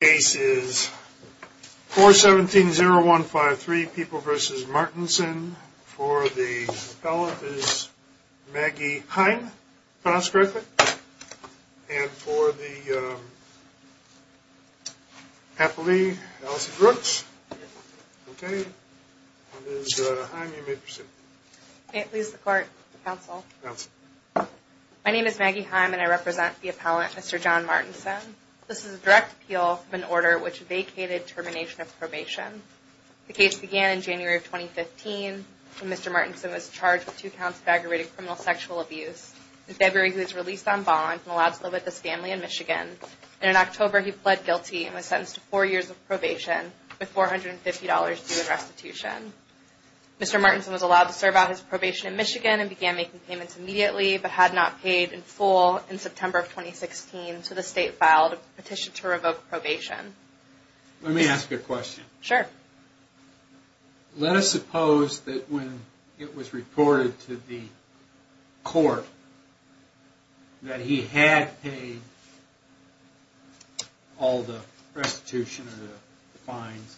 The case is 4-17-0153, People v. Martinson. For the appellant is Maggie Heim, if I pronounced correctly, and for the appellee, Allison Brooks. Okay, it is Heim, you may proceed. May it please the court, counsel. Counsel. My name is Maggie Heim and I represent the appellant, Mr. John Martinson. This is a direct appeal of an order which vacated termination of probation. The case began in January of 2015 when Mr. Martinson was charged with two counts of aggravated criminal sexual abuse. In February, he was released on bond and allowed to live with his family in Michigan. And in October, he pled guilty and was sentenced to four years of probation with $450 due in restitution. Mr. Martinson was allowed to serve out his probation in Michigan and began making payments immediately, but had not paid in full in September of 2016. So the state filed a petition to revoke probation. Let me ask you a question. Sure. Let us suppose that when it was reported to the court that he had paid all the restitution or the fines,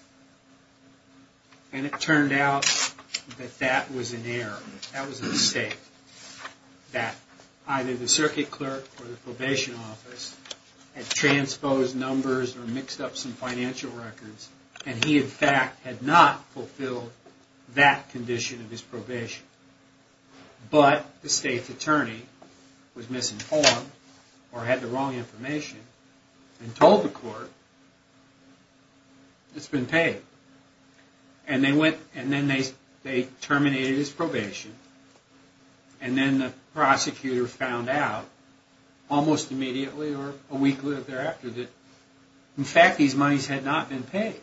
and it turned out that that was an error, that was a mistake, that either the circuit clerk or the probation office had transposed numbers or mixed up some financial records, and he in fact had not fulfilled that condition of his probation, but the state's attorney was misinformed or had the wrong information and told the court it has been paid. And then they terminated his probation, and then the prosecutor found out almost immediately or a week thereafter that in fact these monies had not been paid.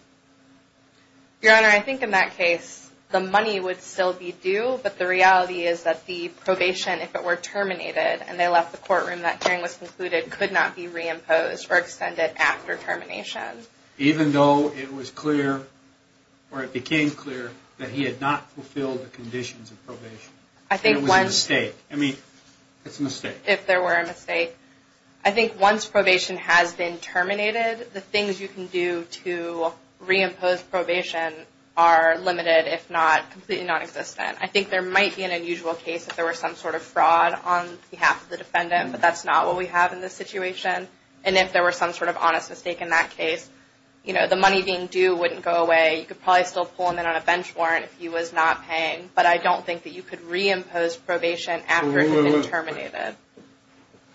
Your Honor, I think in that case the money would still be due, but the reality is that the probation, if it were terminated and they left the courtroom, that hearing was concluded could not be reimposed or extended after termination. Even though it was clear or it became clear that he had not fulfilled the conditions of probation. It was a mistake. If there were a mistake. I think once probation has been terminated, the things you can do to reimpose probation are limited, if not completely nonexistent. I think there might be an unusual case if there were some sort of fraud on behalf of the defendant, but that's not what we have in this situation. And if there were some sort of honest mistake in that case, you know, the money being due wouldn't go away. You could probably still pull him in on a bench warrant if he was not paying, but I don't think that you could reimpose probation after it had been terminated.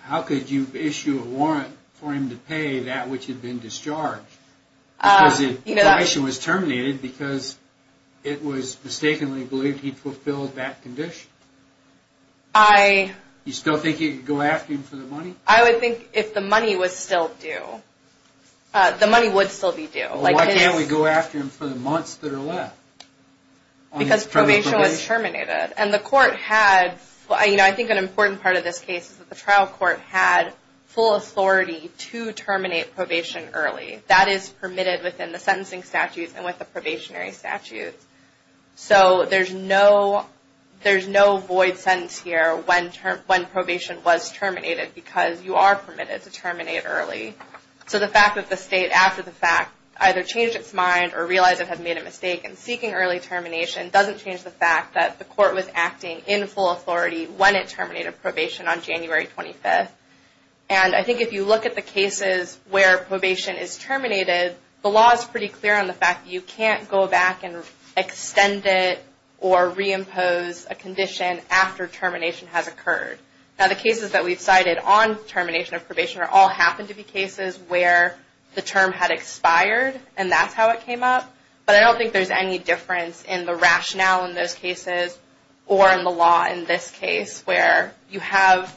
How could you issue a warrant for him to pay that which had been discharged? Because probation was terminated because it was mistakenly believed he fulfilled that condition. You still think you could go after him for the money? I would think if the money was still due, the money would still be due. Why can't we go after him for the months that are left? Because probation was terminated. And the court had, you know, I think an important part of this case is that the trial court had full authority to terminate probation early. That is permitted within the sentencing statutes and with the probationary statutes. So there's no, there's no void sentence here when probation was terminated because you are permitted to terminate early. So the fact that the state after the fact either changed its mind or realized it had made a mistake in seeking early termination doesn't change the fact that the court was acting in full authority when it terminated probation on January 25th. And I think if you look at the cases where probation is terminated, the law is pretty clear on the fact that you can't go back and extend it or reimpose a condition after termination has occurred. Now the cases that we've cited on termination of probation are all happened to be cases where the term had expired and that's how it came up. But I don't think there's any difference in the rationale in those cases or in the law in this case where you have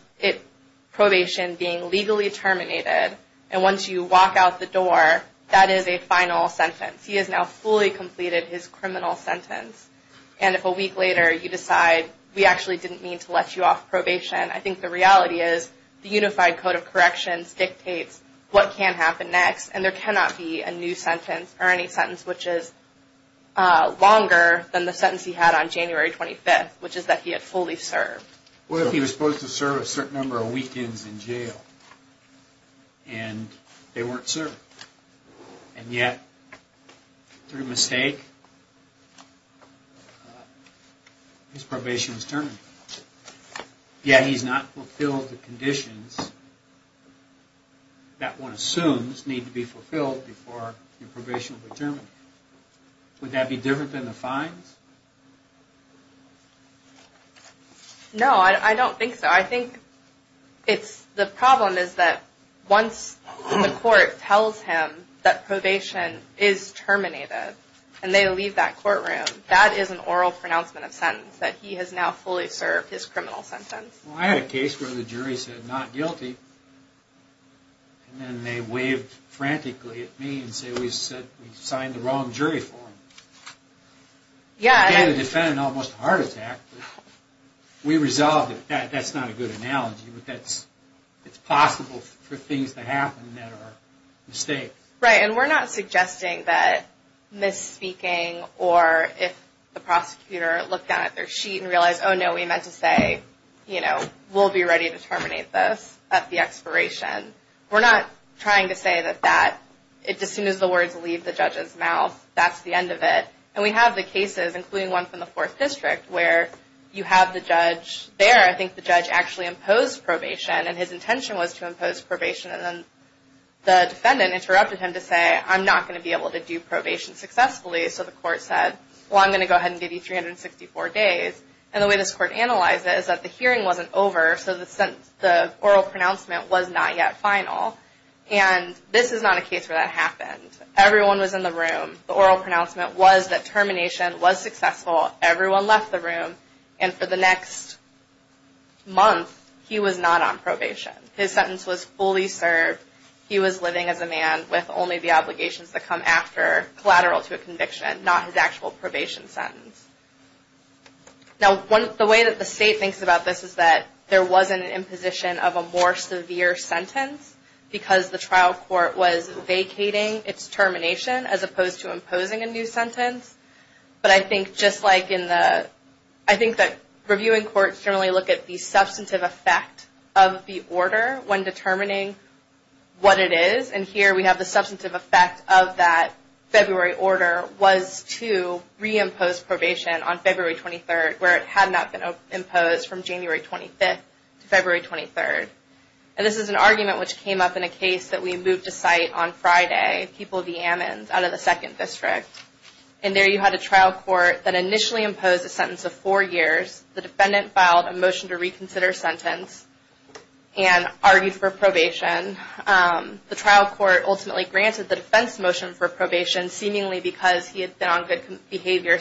probation being legally terminated and once you walk out the door, that is a final sentence. He has now fully completed his criminal sentence. And if a week later you decide we actually didn't mean to let you off probation, I think the reality is the Unified Code of Corrections dictates what can happen next and there cannot be a new sentence or any sentence which is longer than the sentence he had on January 25th, which is that he had fully served. What if he was supposed to serve a certain number of weekends in jail and they weren't served? And yet, through mistake, his probation was terminated. Yet he's not fulfilled the conditions that one assumes need to be fulfilled before probation is terminated. Would that be different than the fines? No, I don't think so. I think the problem is that once the court tells him that probation is terminated and they leave that courtroom, that is an oral pronouncement of sentence that he has now fully served his criminal sentence. Well, I had a case where the jury said not guilty and then they waved frantically at me and said we signed the wrong jury form. Yeah. The defendant almost had a heart attack. We resolved it. That's not a good analogy, but it's possible for things to happen that are mistakes. Right, and we're not suggesting that misspeaking or if the prosecutor looked down at their sheet and realized, oh no, we meant to say we'll be ready to terminate this at the expiration. We're not trying to say that as soon as the words leave the judge's mouth, that's the end of it. And we have the cases, including one from the Fourth District, where you have the judge there. I think the judge actually imposed probation and his intention was to impose probation and then the defendant interrupted him to say, I'm not going to be able to do probation successfully. So the court said, well, I'm going to go ahead and give you 364 days. And the way this court analyzed it is that the hearing wasn't over, so the oral pronouncement was not yet final. And this is not a case where that happened. Everyone was in the room. The oral pronouncement was that termination was successful. Everyone left the room. And for the next month, he was not on probation. His sentence was fully served. He was living as a man with only the obligations that come after collateral to a conviction, not his actual probation sentence. Now, the way that the state thinks about this is that there was an imposition of a more severe sentence because the trial court was vacating its termination as opposed to imposing a new sentence. But I think just like in the, I think that reviewing courts generally look at the substantive effect of the order when determining what it is, and here we have the substantive effect of that February order was to reimpose probation on February 23rd, where it had not been imposed from January 25th to February 23rd. And this is an argument which came up in a case that we moved to site on Friday, People v. Ammons, out of the 2nd District. And there you had a trial court that initially imposed a sentence of four years. The defendant filed a motion to reconsider sentence and argued for probation. The trial court ultimately granted the defense motion for probation, seemingly because he had been on good behavior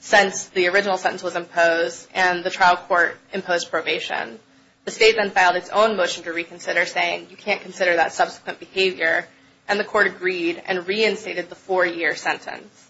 since the original sentence was imposed, and the trial court imposed probation. The state then filed its own motion to reconsider, saying you can't consider that subsequent behavior, and the court agreed and reinstated the four-year sentence.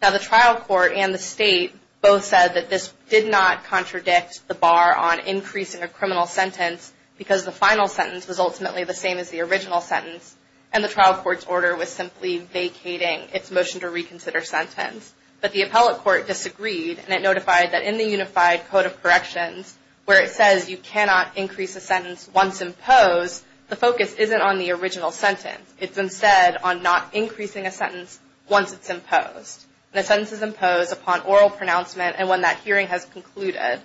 Now the trial court and the state both said that this did not contradict the bar on increasing a criminal sentence because the final sentence was ultimately the same as the original sentence, and the trial court's order was simply vacating its motion to reconsider sentence. But the appellate court disagreed, and it notified that in the Unified Code of Corrections, where it says you cannot increase a sentence once imposed, the focus isn't on the original sentence. It's instead on not increasing a sentence once it's imposed. And a sentence is imposed upon oral pronouncement and when that hearing has concluded.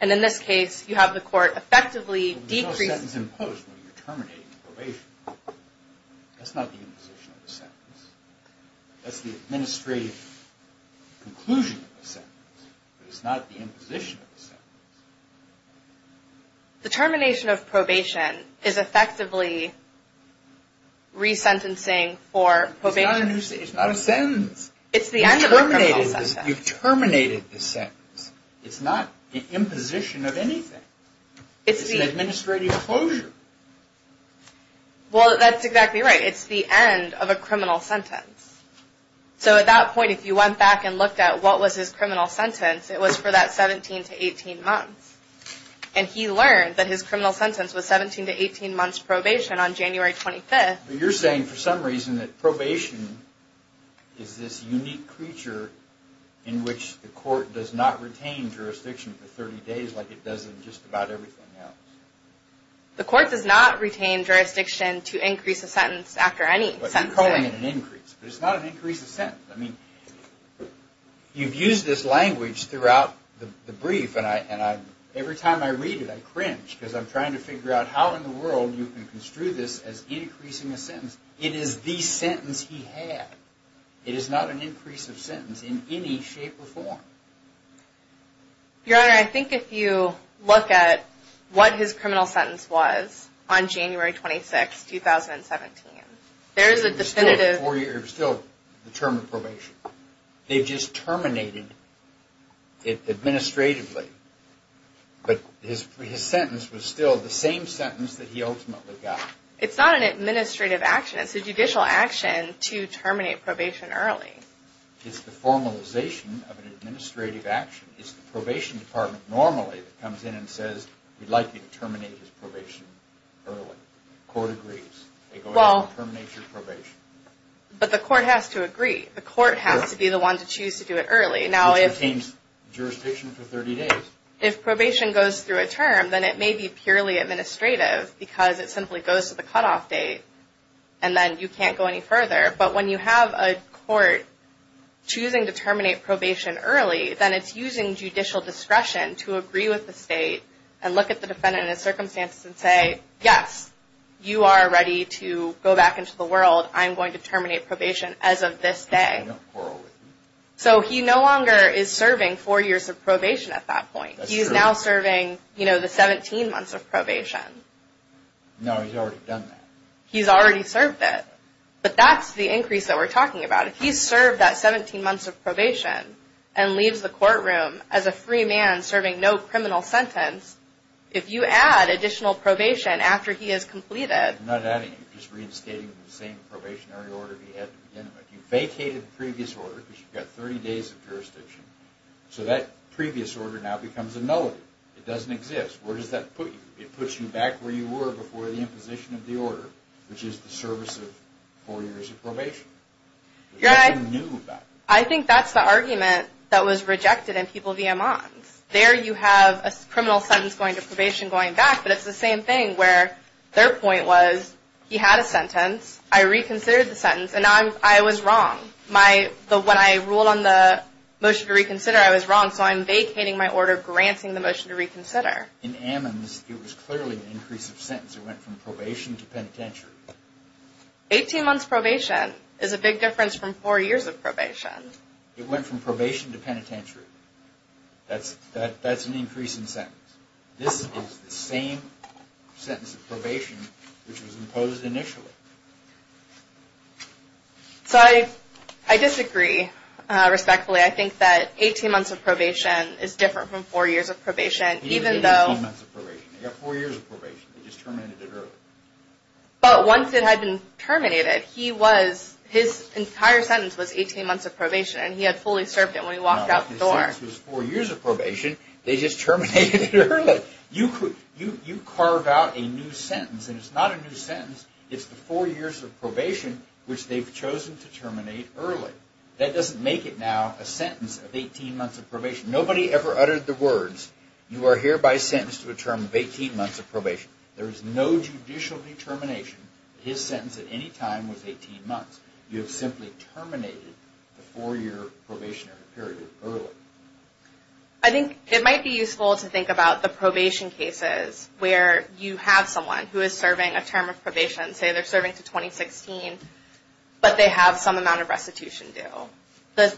And in this case, you have the court effectively decreasing... There's no sentence imposed when you're terminating probation. That's not the imposition of the sentence. That's the administrative conclusion of the sentence. It's not the imposition of the sentence. The termination of probation is effectively resentencing for probation. It's not a sentence. It's the end of a criminal sentence. You've terminated the sentence. It's not an imposition of anything. It's an administrative closure. Well, that's exactly right. It's the end of a criminal sentence. So at that point, if you went back and looked at what was his criminal sentence, it was for that 17 to 18 months. And he learned that his criminal sentence was 17 to 18 months probation on January 25th. But you're saying for some reason that probation is this unique creature in which the court does not retain jurisdiction for 30 days like it does in just about everything else. The court does not retain jurisdiction to increase a sentence after any sentencing. I'm calling it an increase, but it's not an increase of sentence. I mean, you've used this language throughout the brief, and every time I read it I cringe because I'm trying to figure out how in the world you can construe this as increasing a sentence. It is the sentence he had. It is not an increase of sentence in any shape or form. Your Honor, I think if you look at what his criminal sentence was on January 26th, 2017, there is a definitive... It was still the term of probation. They just terminated it administratively, but his sentence was still the same sentence that he ultimately got. It's not an administrative action. It's a judicial action to terminate probation early. It's the formalization of an administrative action. It's the probation department normally that comes in and says, we'd like you to terminate his probation early. The court agrees. They go ahead and terminate your probation. But the court has to agree. The court has to be the one to choose to do it early. Which retains jurisdiction for 30 days. If probation goes through a term, then it may be purely administrative because it simply goes to the cutoff date, and then you can't go any further. But when you have a court choosing to terminate probation early, then it's using judicial discretion to agree with the state and look at the defendant in his circumstances and say, yes, you are ready to go back into the world. I'm going to terminate probation as of this day. So he no longer is serving four years of probation at that point. He is now serving the 17 months of probation. No, he's already done that. He's already served it. But that's the increase that we're talking about. If he's served that 17 months of probation and leaves the courtroom as a free man serving no criminal sentence, if you add additional probation after he has completed... I'm not adding it. I'm just reinstating the same probationary order he had to begin with. You vacated the previous order because you've got 30 days of jurisdiction. So that previous order now becomes a nullity. It doesn't exist. Where does that put you? It puts you back where you were before the imposition of the order, which is the service of four years of probation. What's new about it? I think that's the argument that was rejected in people via Mons. There you have a criminal sentence going to probation going back, but it's the same thing where their point was he had a sentence, I reconsidered the sentence, and now I was wrong. When I ruled on the motion to reconsider, I was wrong, so I'm vacating my order, granting the motion to reconsider. In Ammons, it was clearly an increase of sentence. It went from probation to penitentiary. 18 months probation is a big difference from four years of probation. It went from probation to penitentiary. That's an increase in sentence. This is the same sentence of probation which was imposed initially. So I disagree respectfully. I think that 18 months of probation is different from four years of probation, even though... He didn't say 18 months of probation. They got four years of probation. They just terminated it early. But once it had been terminated, his entire sentence was 18 months of probation, and he had fully served it when he walked out the door. No, his sentence was four years of probation. They just terminated it early. You carve out a new sentence, and it's not a new sentence. It's the four years of probation which they've chosen to terminate early. That doesn't make it now a sentence of 18 months of probation. Nobody ever uttered the words, You are hereby sentenced to a term of 18 months of probation. There is no judicial determination that his sentence at any time was 18 months. You have simply terminated the four-year probationary period early. I think it might be useful to think about the probation cases where you have someone who is serving a term of probation, say they're serving to 2016, but they have some amount of restitution due. The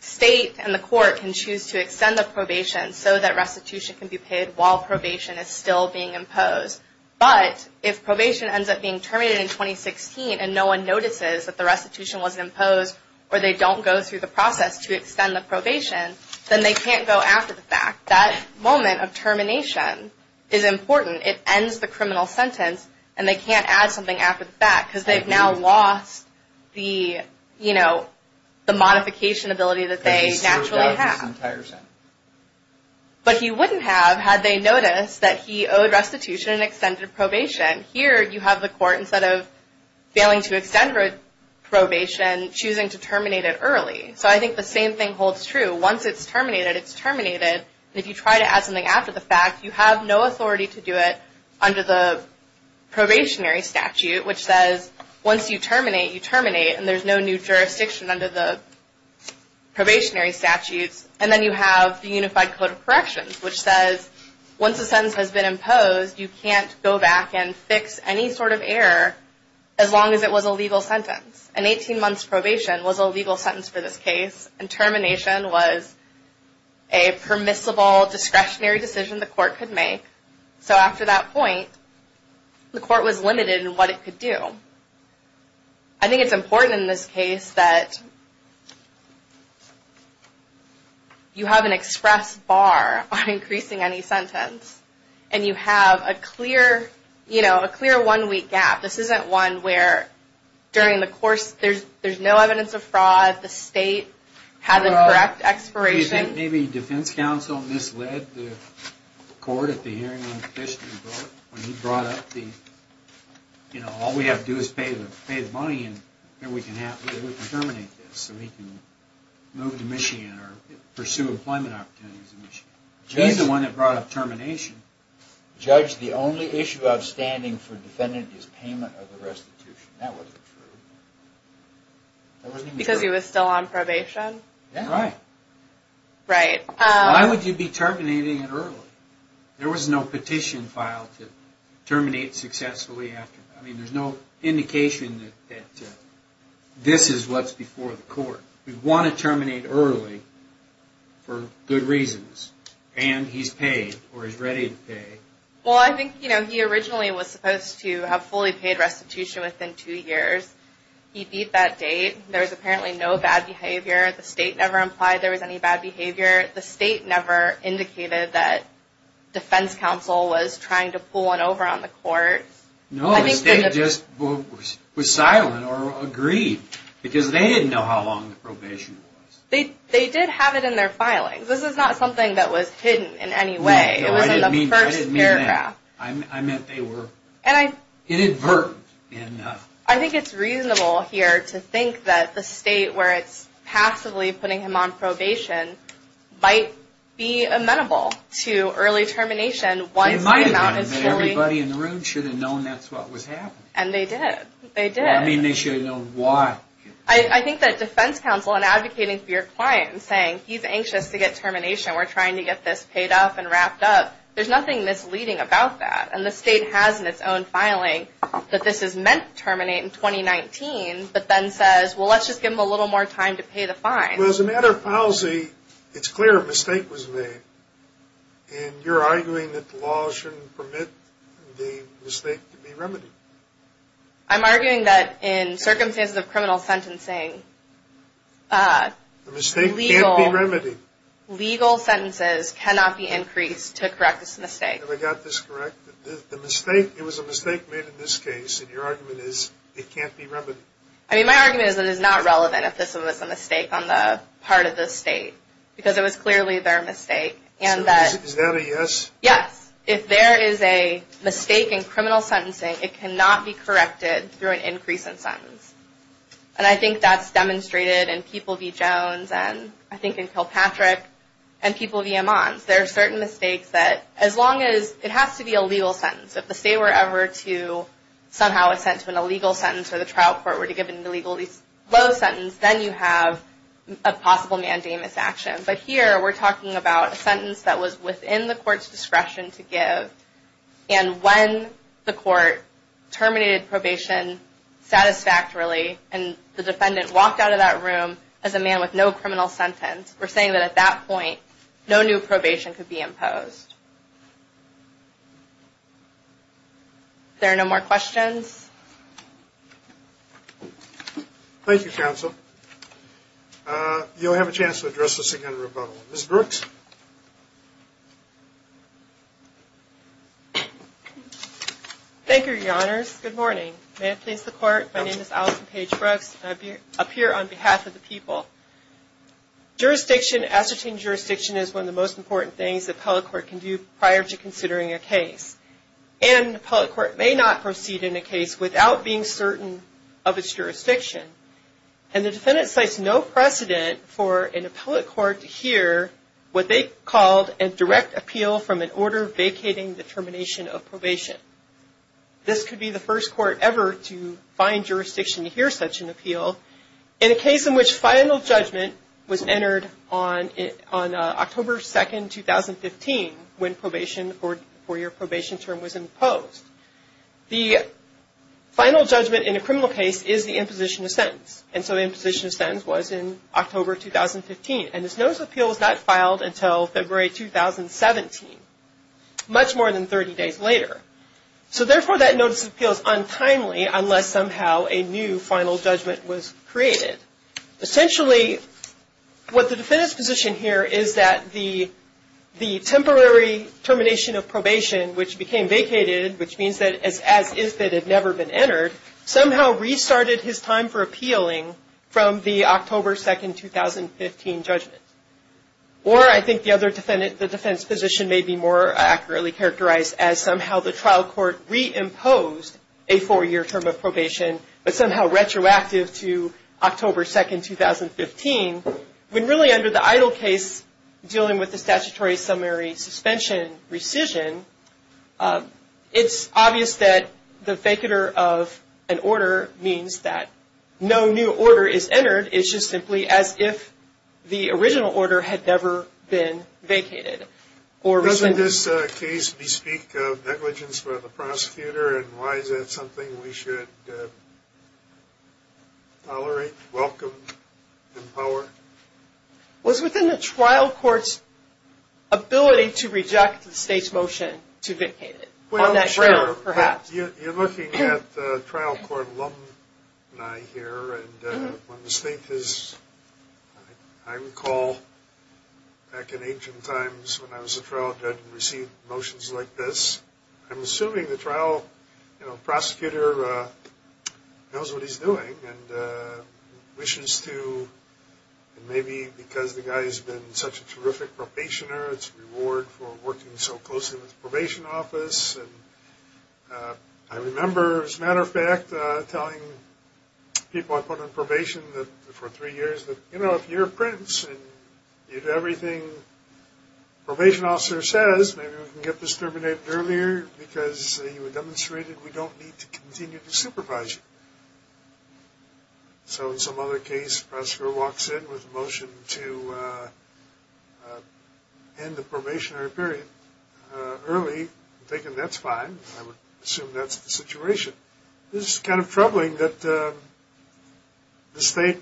state and the court can choose to extend the probation so that restitution can be paid while probation is still being imposed. But if probation ends up being terminated in 2016 and no one notices that the restitution was imposed or they don't go through the process to extend the probation, then they can't go after the fact. That moment of termination is important. It ends the criminal sentence, and they can't add something after the fact because they've now lost the modification ability that they naturally have. But he wouldn't have had they noticed that he owed restitution and extended probation. Here you have the court, instead of failing to extend probation, choosing to terminate it early. So I think the same thing holds true. Once it's terminated, it's terminated. If you try to add something after the fact, you have no authority to do it under the probationary statute, which says once you terminate, you terminate, and there's no new jurisdiction under the probationary statutes. And then you have the Unified Code of Corrections, which says once a sentence has been imposed, you can't go back and fix any sort of error as long as it was a legal sentence. An 18-months probation was a legal sentence for this case, and termination was a permissible, discretionary decision the court could make. So after that point, the court was limited in what it could do. I think it's important in this case that you have an express bar on increasing any sentence, and you have a clear one-week gap. This isn't one where during the course, there's no evidence of fraud, the state had the correct expiration. Maybe defense counsel misled the court at the hearing on the Fishman vote, when he brought up the, you know, all we have to do is pay the money, and we can terminate this so he can move to Michigan or pursue employment opportunities in Michigan. He's the one that brought up termination. Judge, the only issue outstanding for defendant is payment of the restitution. That wasn't true. Because he was still on probation? Right. Right. Why would you be terminating it early? There was no petition filed to terminate successfully after that. I mean, there's no indication that this is what's before the court. We want to terminate early for good reasons. And he's paid, or he's ready to pay. Well, I think, you know, he originally was supposed to have fully paid restitution within two years. He beat that date. There was apparently no bad behavior. The state never implied there was any bad behavior. The state never indicated that defense counsel was trying to pull one over on the court. No, the state just was silent or agreed, because they didn't know how long the probation was. They did have it in their filings. This is not something that was hidden in any way. No, I didn't mean that. I meant they were inadvertent. I think it's reasonable here to think that the state, where it's passively putting him on probation, might be amenable to early termination. It might have been, but everybody in the room should have known that's what was happening. And they did. They did. I mean, they should have known why. I think that defense counsel, in advocating for your client and saying, he's anxious to get termination, we're trying to get this paid off and wrapped up, there's nothing misleading about that. And the state has in its own filing that this is meant to terminate in 2019, but then says, well, let's just give him a little more time to pay the fine. Well, as a matter of policy, it's clear a mistake was made. And you're arguing that the law shouldn't permit the mistake to be remedied. I'm arguing that in circumstances of criminal sentencing, legal sentences cannot be increased to correct this mistake. Have I got this correct? The mistake, it was a mistake made in this case, and your argument is it can't be remedied. I mean, my argument is it is not relevant if this was a mistake on the part of the state, because it was clearly their mistake. So is that a yes? Yes. If there is a mistake in criminal sentencing, it cannot be corrected through an increase in sentence. And I think that's demonstrated in People v. Jones and I think in Kilpatrick and People v. Ammons. There are certain mistakes that, as long as it has to be a legal sentence, if the state were ever to somehow assent to an illegal sentence or the trial court were to give an illegally low sentence, then you have a possible mandamus action. But here we're talking about a sentence that was within the court's discretion to give, and when the court terminated probation satisfactorily and the defendant walked out of that room as a man with no criminal sentence, we're saying that at that point no new probation could be imposed. If there are no more questions. Thank you, Counsel. You'll have a chance to address this again in rebuttal. Ms. Brooks? Thank you, Your Honors. Good morning. May it please the Court, my name is Allison Paige Brooks, and I appear on behalf of the people. Jurisdiction, ascertaining jurisdiction, is one of the most important things the appellate court can do prior to considering a case. And the appellate court may not proceed in a case without being certain of its jurisdiction. And the defendant cites no precedent for an appellate court to hear what they called a direct appeal from an order vacating the termination of probation. This could be the first court ever to find jurisdiction to hear such an appeal. In a case in which final judgment was entered on October 2, 2015, when probation or your probation term was imposed, the final judgment in a criminal case is the imposition of sentence. And so the imposition of sentence was in October 2015. And this notice of appeal was not filed until February 2017, much more than 30 days later. So therefore, that notice of appeal is untimely unless somehow a new final judgment was created. Essentially, what the defendant's position here is that the temporary termination of probation, which became vacated, which means that as if it had never been entered, somehow restarted his time for appealing from the October 2, 2015 judgment. Or I think the defense position may be more accurately characterized as somehow the trial court reimposed a four-year term of probation, but somehow retroactive to October 2, 2015. When really under the EIDL case, dealing with the statutory summary suspension rescission, it's obvious that the vacater of an order means that no new order is entered. It's just simply as if the original order had never been vacated. Or was in this case, we speak of negligence by the prosecutor, and why is that something we should tolerate, welcome, empower? Was within the trial court's ability to reject the state's motion to vacate it? Well, sure. Perhaps. You're looking at trial court alumni here, and when the state has, I recall back in ancient times when I was a trial judge and received motions like this, I'm assuming the trial prosecutor knows what he's doing and wishes to, and maybe because the guy's been such a terrific probationer, it's a reward for working so closely with the probation office. I remember, as a matter of fact, telling people I put on probation for three years that, you know, because you were demonstrated we don't need to continue to supervise you. So in some other case, the prosecutor walks in with a motion to end the probationary period early. I'm thinking that's fine. I would assume that's the situation. This is kind of troubling that the state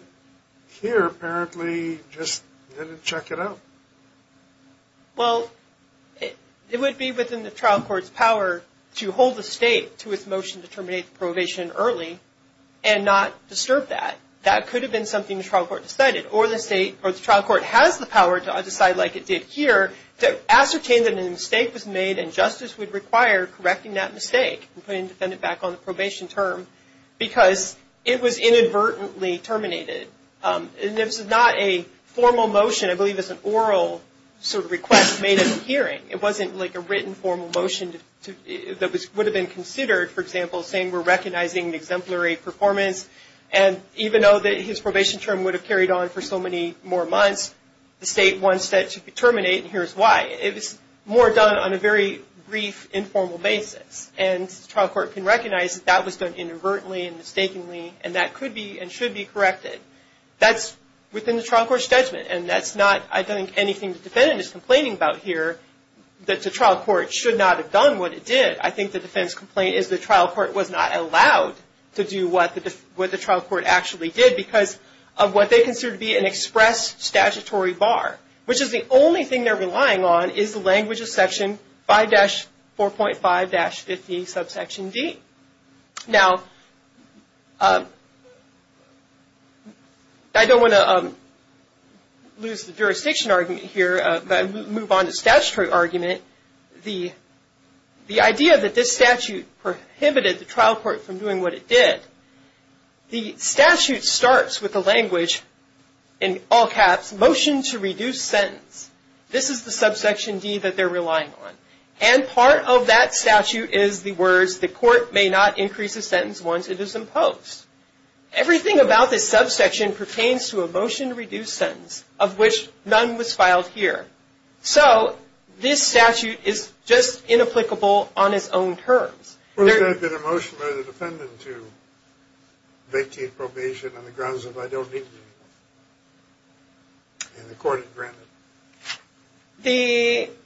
here apparently just didn't check it out. Well, it would be within the trial court's power to hold the state to its motion to terminate the probation early and not disturb that. That could have been something the trial court decided, or the trial court has the power to decide like it did here to ascertain that a mistake was made and justice would require correcting that mistake and putting the defendant back on the probation term because it was inadvertently terminated. And this is not a formal motion. I believe it's an oral sort of request made at the hearing. It wasn't like a written formal motion that would have been considered, for example, saying we're recognizing an exemplary performance, and even though his probation term would have carried on for so many more months, the state wants that to be terminated, and here's why. It was more done on a very brief, informal basis, and the trial court can recognize that that was done inadvertently and mistakenly and that could be and should be corrected. That's within the trial court's judgment, and that's not, I don't think, anything the defendant is complaining about here, that the trial court should not have done what it did. I think the defendant's complaint is the trial court was not allowed to do what the trial court actually did because of what they consider to be an express statutory bar, which is the only thing they're relying on is the language of Section 5-4.5-50, subsection D. Now, I don't want to lose the jurisdiction argument here, but move on to statutory argument. The idea that this statute prohibited the trial court from doing what it did, the statute starts with the language, in all caps, MOTION TO REDUCE SENTENCE. This is the subsection D that they're relying on, and part of that statute is the words, THE COURT MAY NOT INCREASE A SENTENCE ONCE IT IS IMPOSED. Everything about this subsection pertains to a MOTION TO REDUCE SENTENCE, of which none was filed here, so this statute is just inapplicable on its own terms. Well, is there a motion by the defendant to vacate probation on the grounds that I don't need to be in the court and granted? It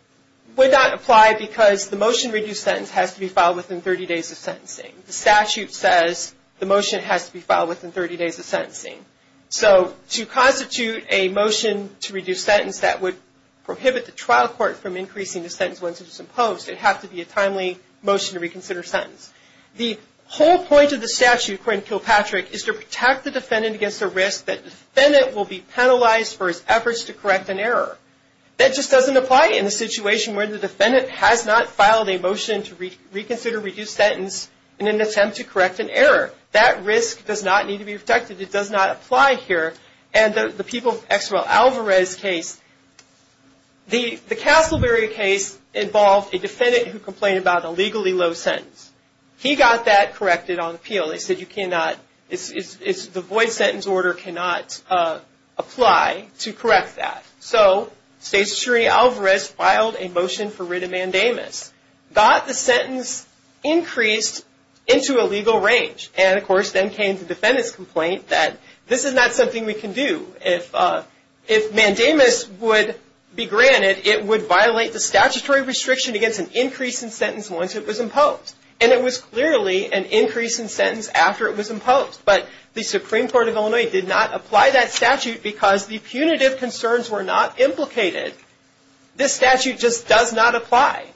would not apply because the MOTION TO REDUCE SENTENCE has to be filed within 30 days of sentencing. The statute says the motion has to be filed within 30 days of sentencing, so to constitute a MOTION TO REDUCE SENTENCE that would prohibit the trial court from increasing the sentence once it is imposed, it would have to be a timely MOTION TO RECONSIDER SENTENCE. The whole point of the statute, according to Kilpatrick, is to protect the defendant against the risk that the defendant will be penalized for his efforts to correct an error. That just doesn't apply in a situation where the defendant has not filed a MOTION TO RECONSIDER REDUCE SENTENCE in an attempt to correct an error. That risk does not need to be protected. It does not apply here. The Castleberry case involved a defendant who complained about a legally low sentence. He got that corrected on appeal. They said the void sentence order cannot apply to correct that. So State's attorney Alvarez filed a MOTION FOR WRIT OF MANDAMUS, got the sentence increased into a legal range, and of course then came the defendant's complaint that this is not something we can do. If mandamus would be granted, it would violate the statutory restriction against an increase in sentence once it was imposed. And it was clearly an increase in sentence after it was imposed. But the Supreme Court of Illinois did not apply that statute because the punitive concerns were not implicated. This statute just does not apply.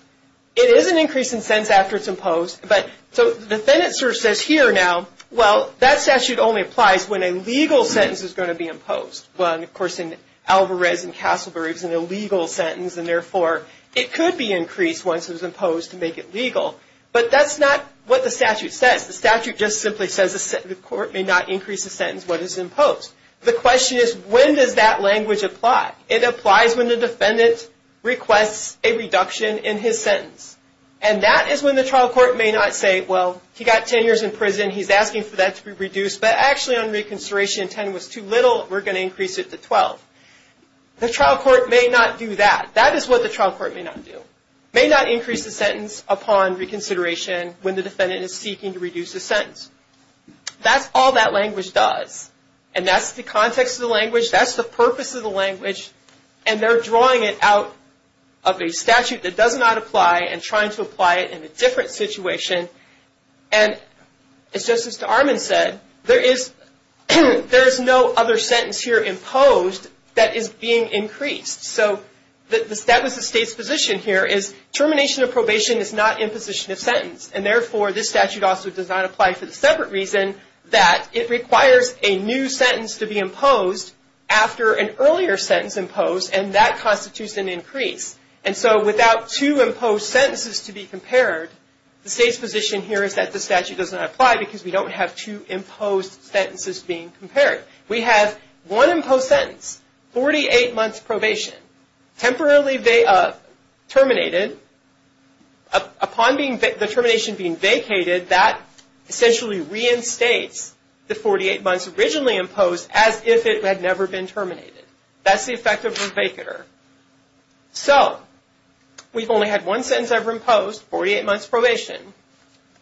It is an increase in sentence after it's imposed, but the defendant sort of says here now, well, that statute only applies when a legal sentence is going to be imposed. Well, of course, in Alvarez and Castleberry, it was an illegal sentence, and therefore it could be increased once it was imposed to make it legal. But that's not what the statute says. The statute just simply says the court may not increase the sentence when it's imposed. The question is, when does that language apply? It applies when the defendant requests a reduction in his sentence, and that is when the trial court may not say, well, he got 10 years in prison. He's asking for that to be reduced, but actually on reconsideration, 10 was too little. We're going to increase it to 12. The trial court may not do that. That is what the trial court may not do, may not increase the sentence upon reconsideration when the defendant is seeking to reduce the sentence. That's the purpose of the language, and they're drawing it out of a statute that does not apply and trying to apply it in a different situation. And it's just as Mr. Arman said, there is no other sentence here imposed that is being increased. So that was the state's position here is termination of probation is not imposition of sentence, and therefore this statute also does not apply for the separate reason that it requires a new sentence to be imposed after an earlier sentence imposed, and that constitutes an increase. And so without two imposed sentences to be compared, the state's position here is that the statute does not apply because we don't have two imposed sentences being compared. We have one imposed sentence, 48 months probation, temporarily terminated. Upon the termination being vacated, that essentially reinstates the 48 months originally imposed as if it had never been terminated. That's the effect of revocator. So we've only had one sentence ever imposed, 48 months probation,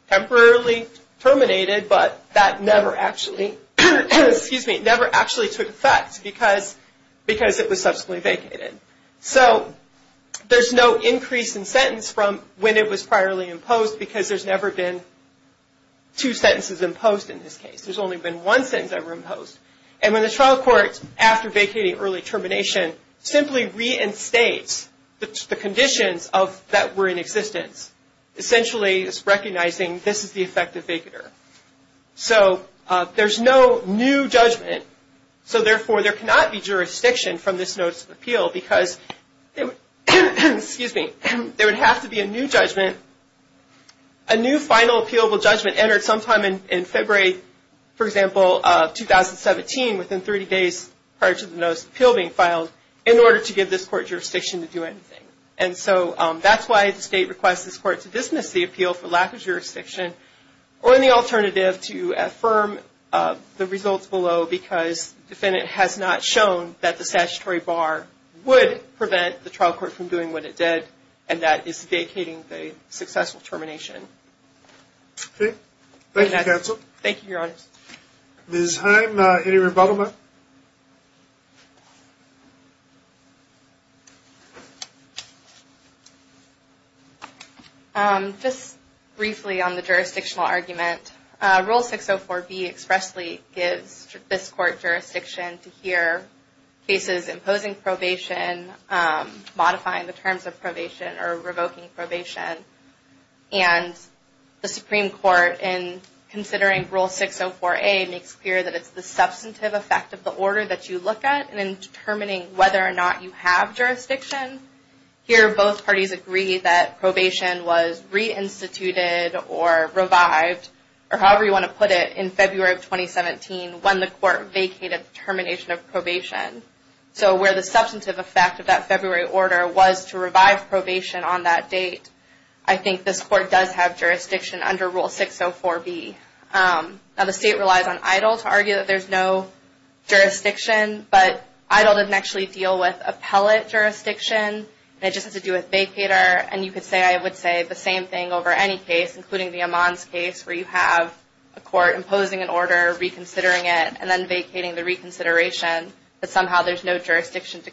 temporarily terminated, but that never actually took effect because it was subsequently vacated. So there's no increase in sentence from when it was priorly imposed because there's never been two sentences imposed in this case. There's only been one sentence ever imposed. And when the trial court, after vacating early termination, simply reinstates the conditions that were in existence, essentially it's recognizing this is the effect of vacator. So there's no new judgment, so therefore there cannot be jurisdiction from this notice of appeal because there would have to be a new judgment, a new final appealable judgment entered sometime in February, for example, of 2017 within 30 days prior to the notice of appeal being filed in order to give this court jurisdiction to do anything. And so that's why the state requests this court to dismiss the appeal for lack of jurisdiction or any alternative to affirm the results below because the defendant has not shown that the statutory bar would prevent the trial court from doing what it did and that is vacating the successful termination. Okay. Thank you, counsel. Thank you, Your Honor. Ms. Heim, any rebuttal? Just briefly on the jurisdictional argument. Rule 604B expressly gives this court jurisdiction to hear cases imposing probation, modifying the terms of probation, or revoking probation. And the Supreme Court, in considering Rule 604A, makes clear that it's the substantive effect of the order that you look at in determining whether or not you have jurisdiction. Here, both parties agree that probation was reinstituted or revived, or however you want to put it, in February of 2017 when the court vacated the termination of probation. So where the substantive effect of that February order was to revive probation on that date, I think this court does have jurisdiction under Rule 604B. Now the state relies on EIDL to argue that there's no jurisdiction, but EIDL doesn't actually deal with appellate jurisdiction. It just has to do with vacator. And you could say, I would say, the same thing over any case, including the Amman's case, where you have a court imposing an order, reconsidering it, and then vacating the reconsideration, but somehow there's no jurisdiction to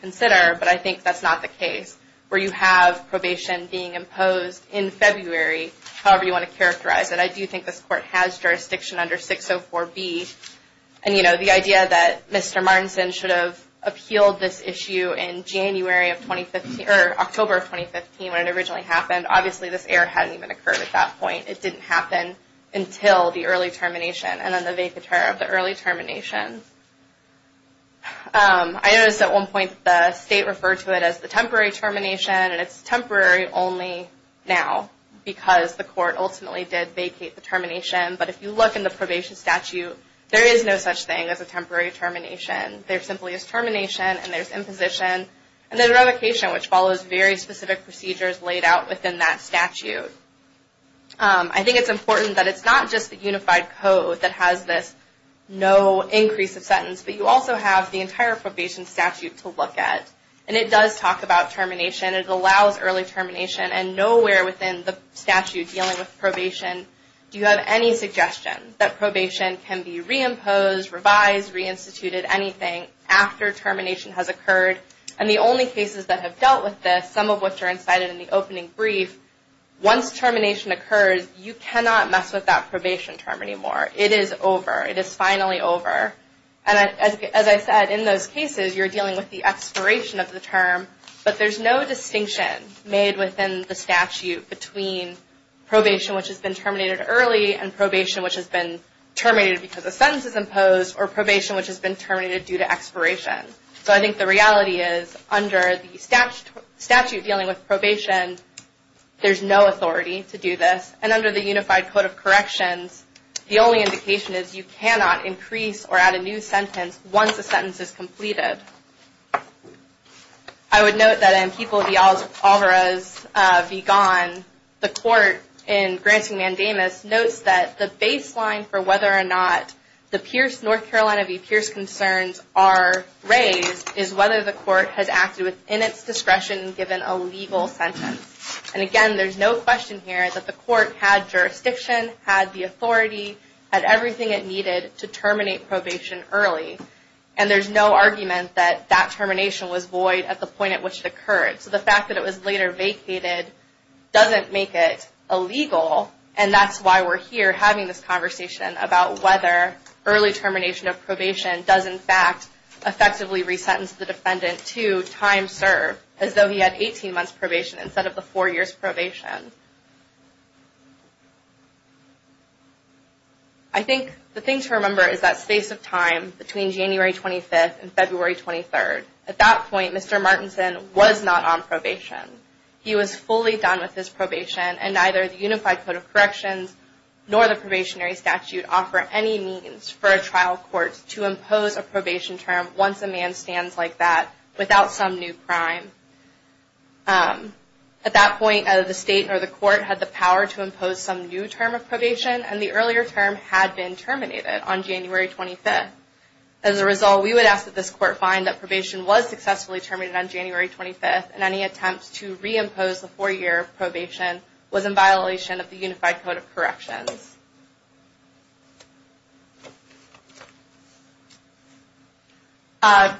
consider. But I think that's not the case where you have probation being imposed in February, however you want to characterize it. I do think this court has jurisdiction under 604B. And, you know, the idea that Mr. Martinson should have appealed this issue in January of 2015, or October of 2015, when it originally happened, obviously this error hadn't even occurred at that point. It didn't happen until the early termination, and then the vacator of the early termination. I noticed at one point the state referred to it as the temporary termination, and it's temporary only now because the court ultimately did vacate the termination. But if you look in the probation statute, there is no such thing as a temporary termination. There simply is termination, and there's imposition, and then revocation, which follows very specific procedures laid out within that statute. I think it's important that it's not just the unified code that has this no increase of sentence, but you also have the entire probation statute to look at. And it does talk about termination. It allows early termination. And nowhere within the statute dealing with probation do you have any suggestion that probation can be reimposed, revised, reinstituted, anything, after termination has occurred. And the only cases that have dealt with this, some of which are incited in the opening brief, once termination occurs, you cannot mess with that probation term anymore. It is over. It is finally over. And as I said, in those cases, you're dealing with the expiration of the term, but there's no distinction made within the statute between probation, which has been terminated early, and probation, which has been terminated because a sentence is imposed, or probation, which has been terminated due to expiration. So I think the reality is under the statute dealing with probation, there's no authority to do this. And under the unified code of corrections, the only indication is you cannot increase or add a new sentence once a sentence is completed. I would note that in People v. Alvarez v. Gone, the court in granting mandamus notes that the baseline for whether or not the North Carolina v. Pierce concerns are raised is whether the court has acted within its discretion given a legal sentence. And again, there's no question here that the court had jurisdiction, had the authority, had everything it needed to terminate probation early. And there's no argument that that termination was void at the point at which it occurred. So the fact that it was later vacated doesn't make it illegal, and that's why we're here having this conversation about whether early termination of probation does, in fact, effectively resentence the defendant to time served, as though he had 18 months probation instead of the four years probation. I think the thing to remember is that space of time between January 25th and February 23rd. At that point, Mr. Martinson was not on probation. He was fully done with his probation, and neither the unified code of corrections nor the probationary statute offer any means for a trial court to impose a probation term once a man stands like that without some new crime. At that point, the state or the court had the power to impose some new term of probation, and the earlier term had been terminated on January 25th. As a result, we would ask that this court find that probation was successfully terminated on January 25th, and any attempts to reimpose the four-year probation was in violation of the unified code of corrections.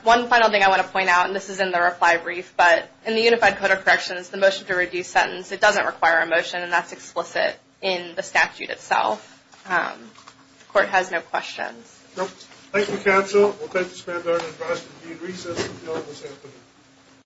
One final thing I want to point out, and this is in the reply brief, but in the unified code of corrections, the motion to reduce sentence, it doesn't require a motion, and that's explicit in the statute itself. The court has no questions. Thank you, counsel. We'll take this matter to the advice of the dean of recess until this afternoon.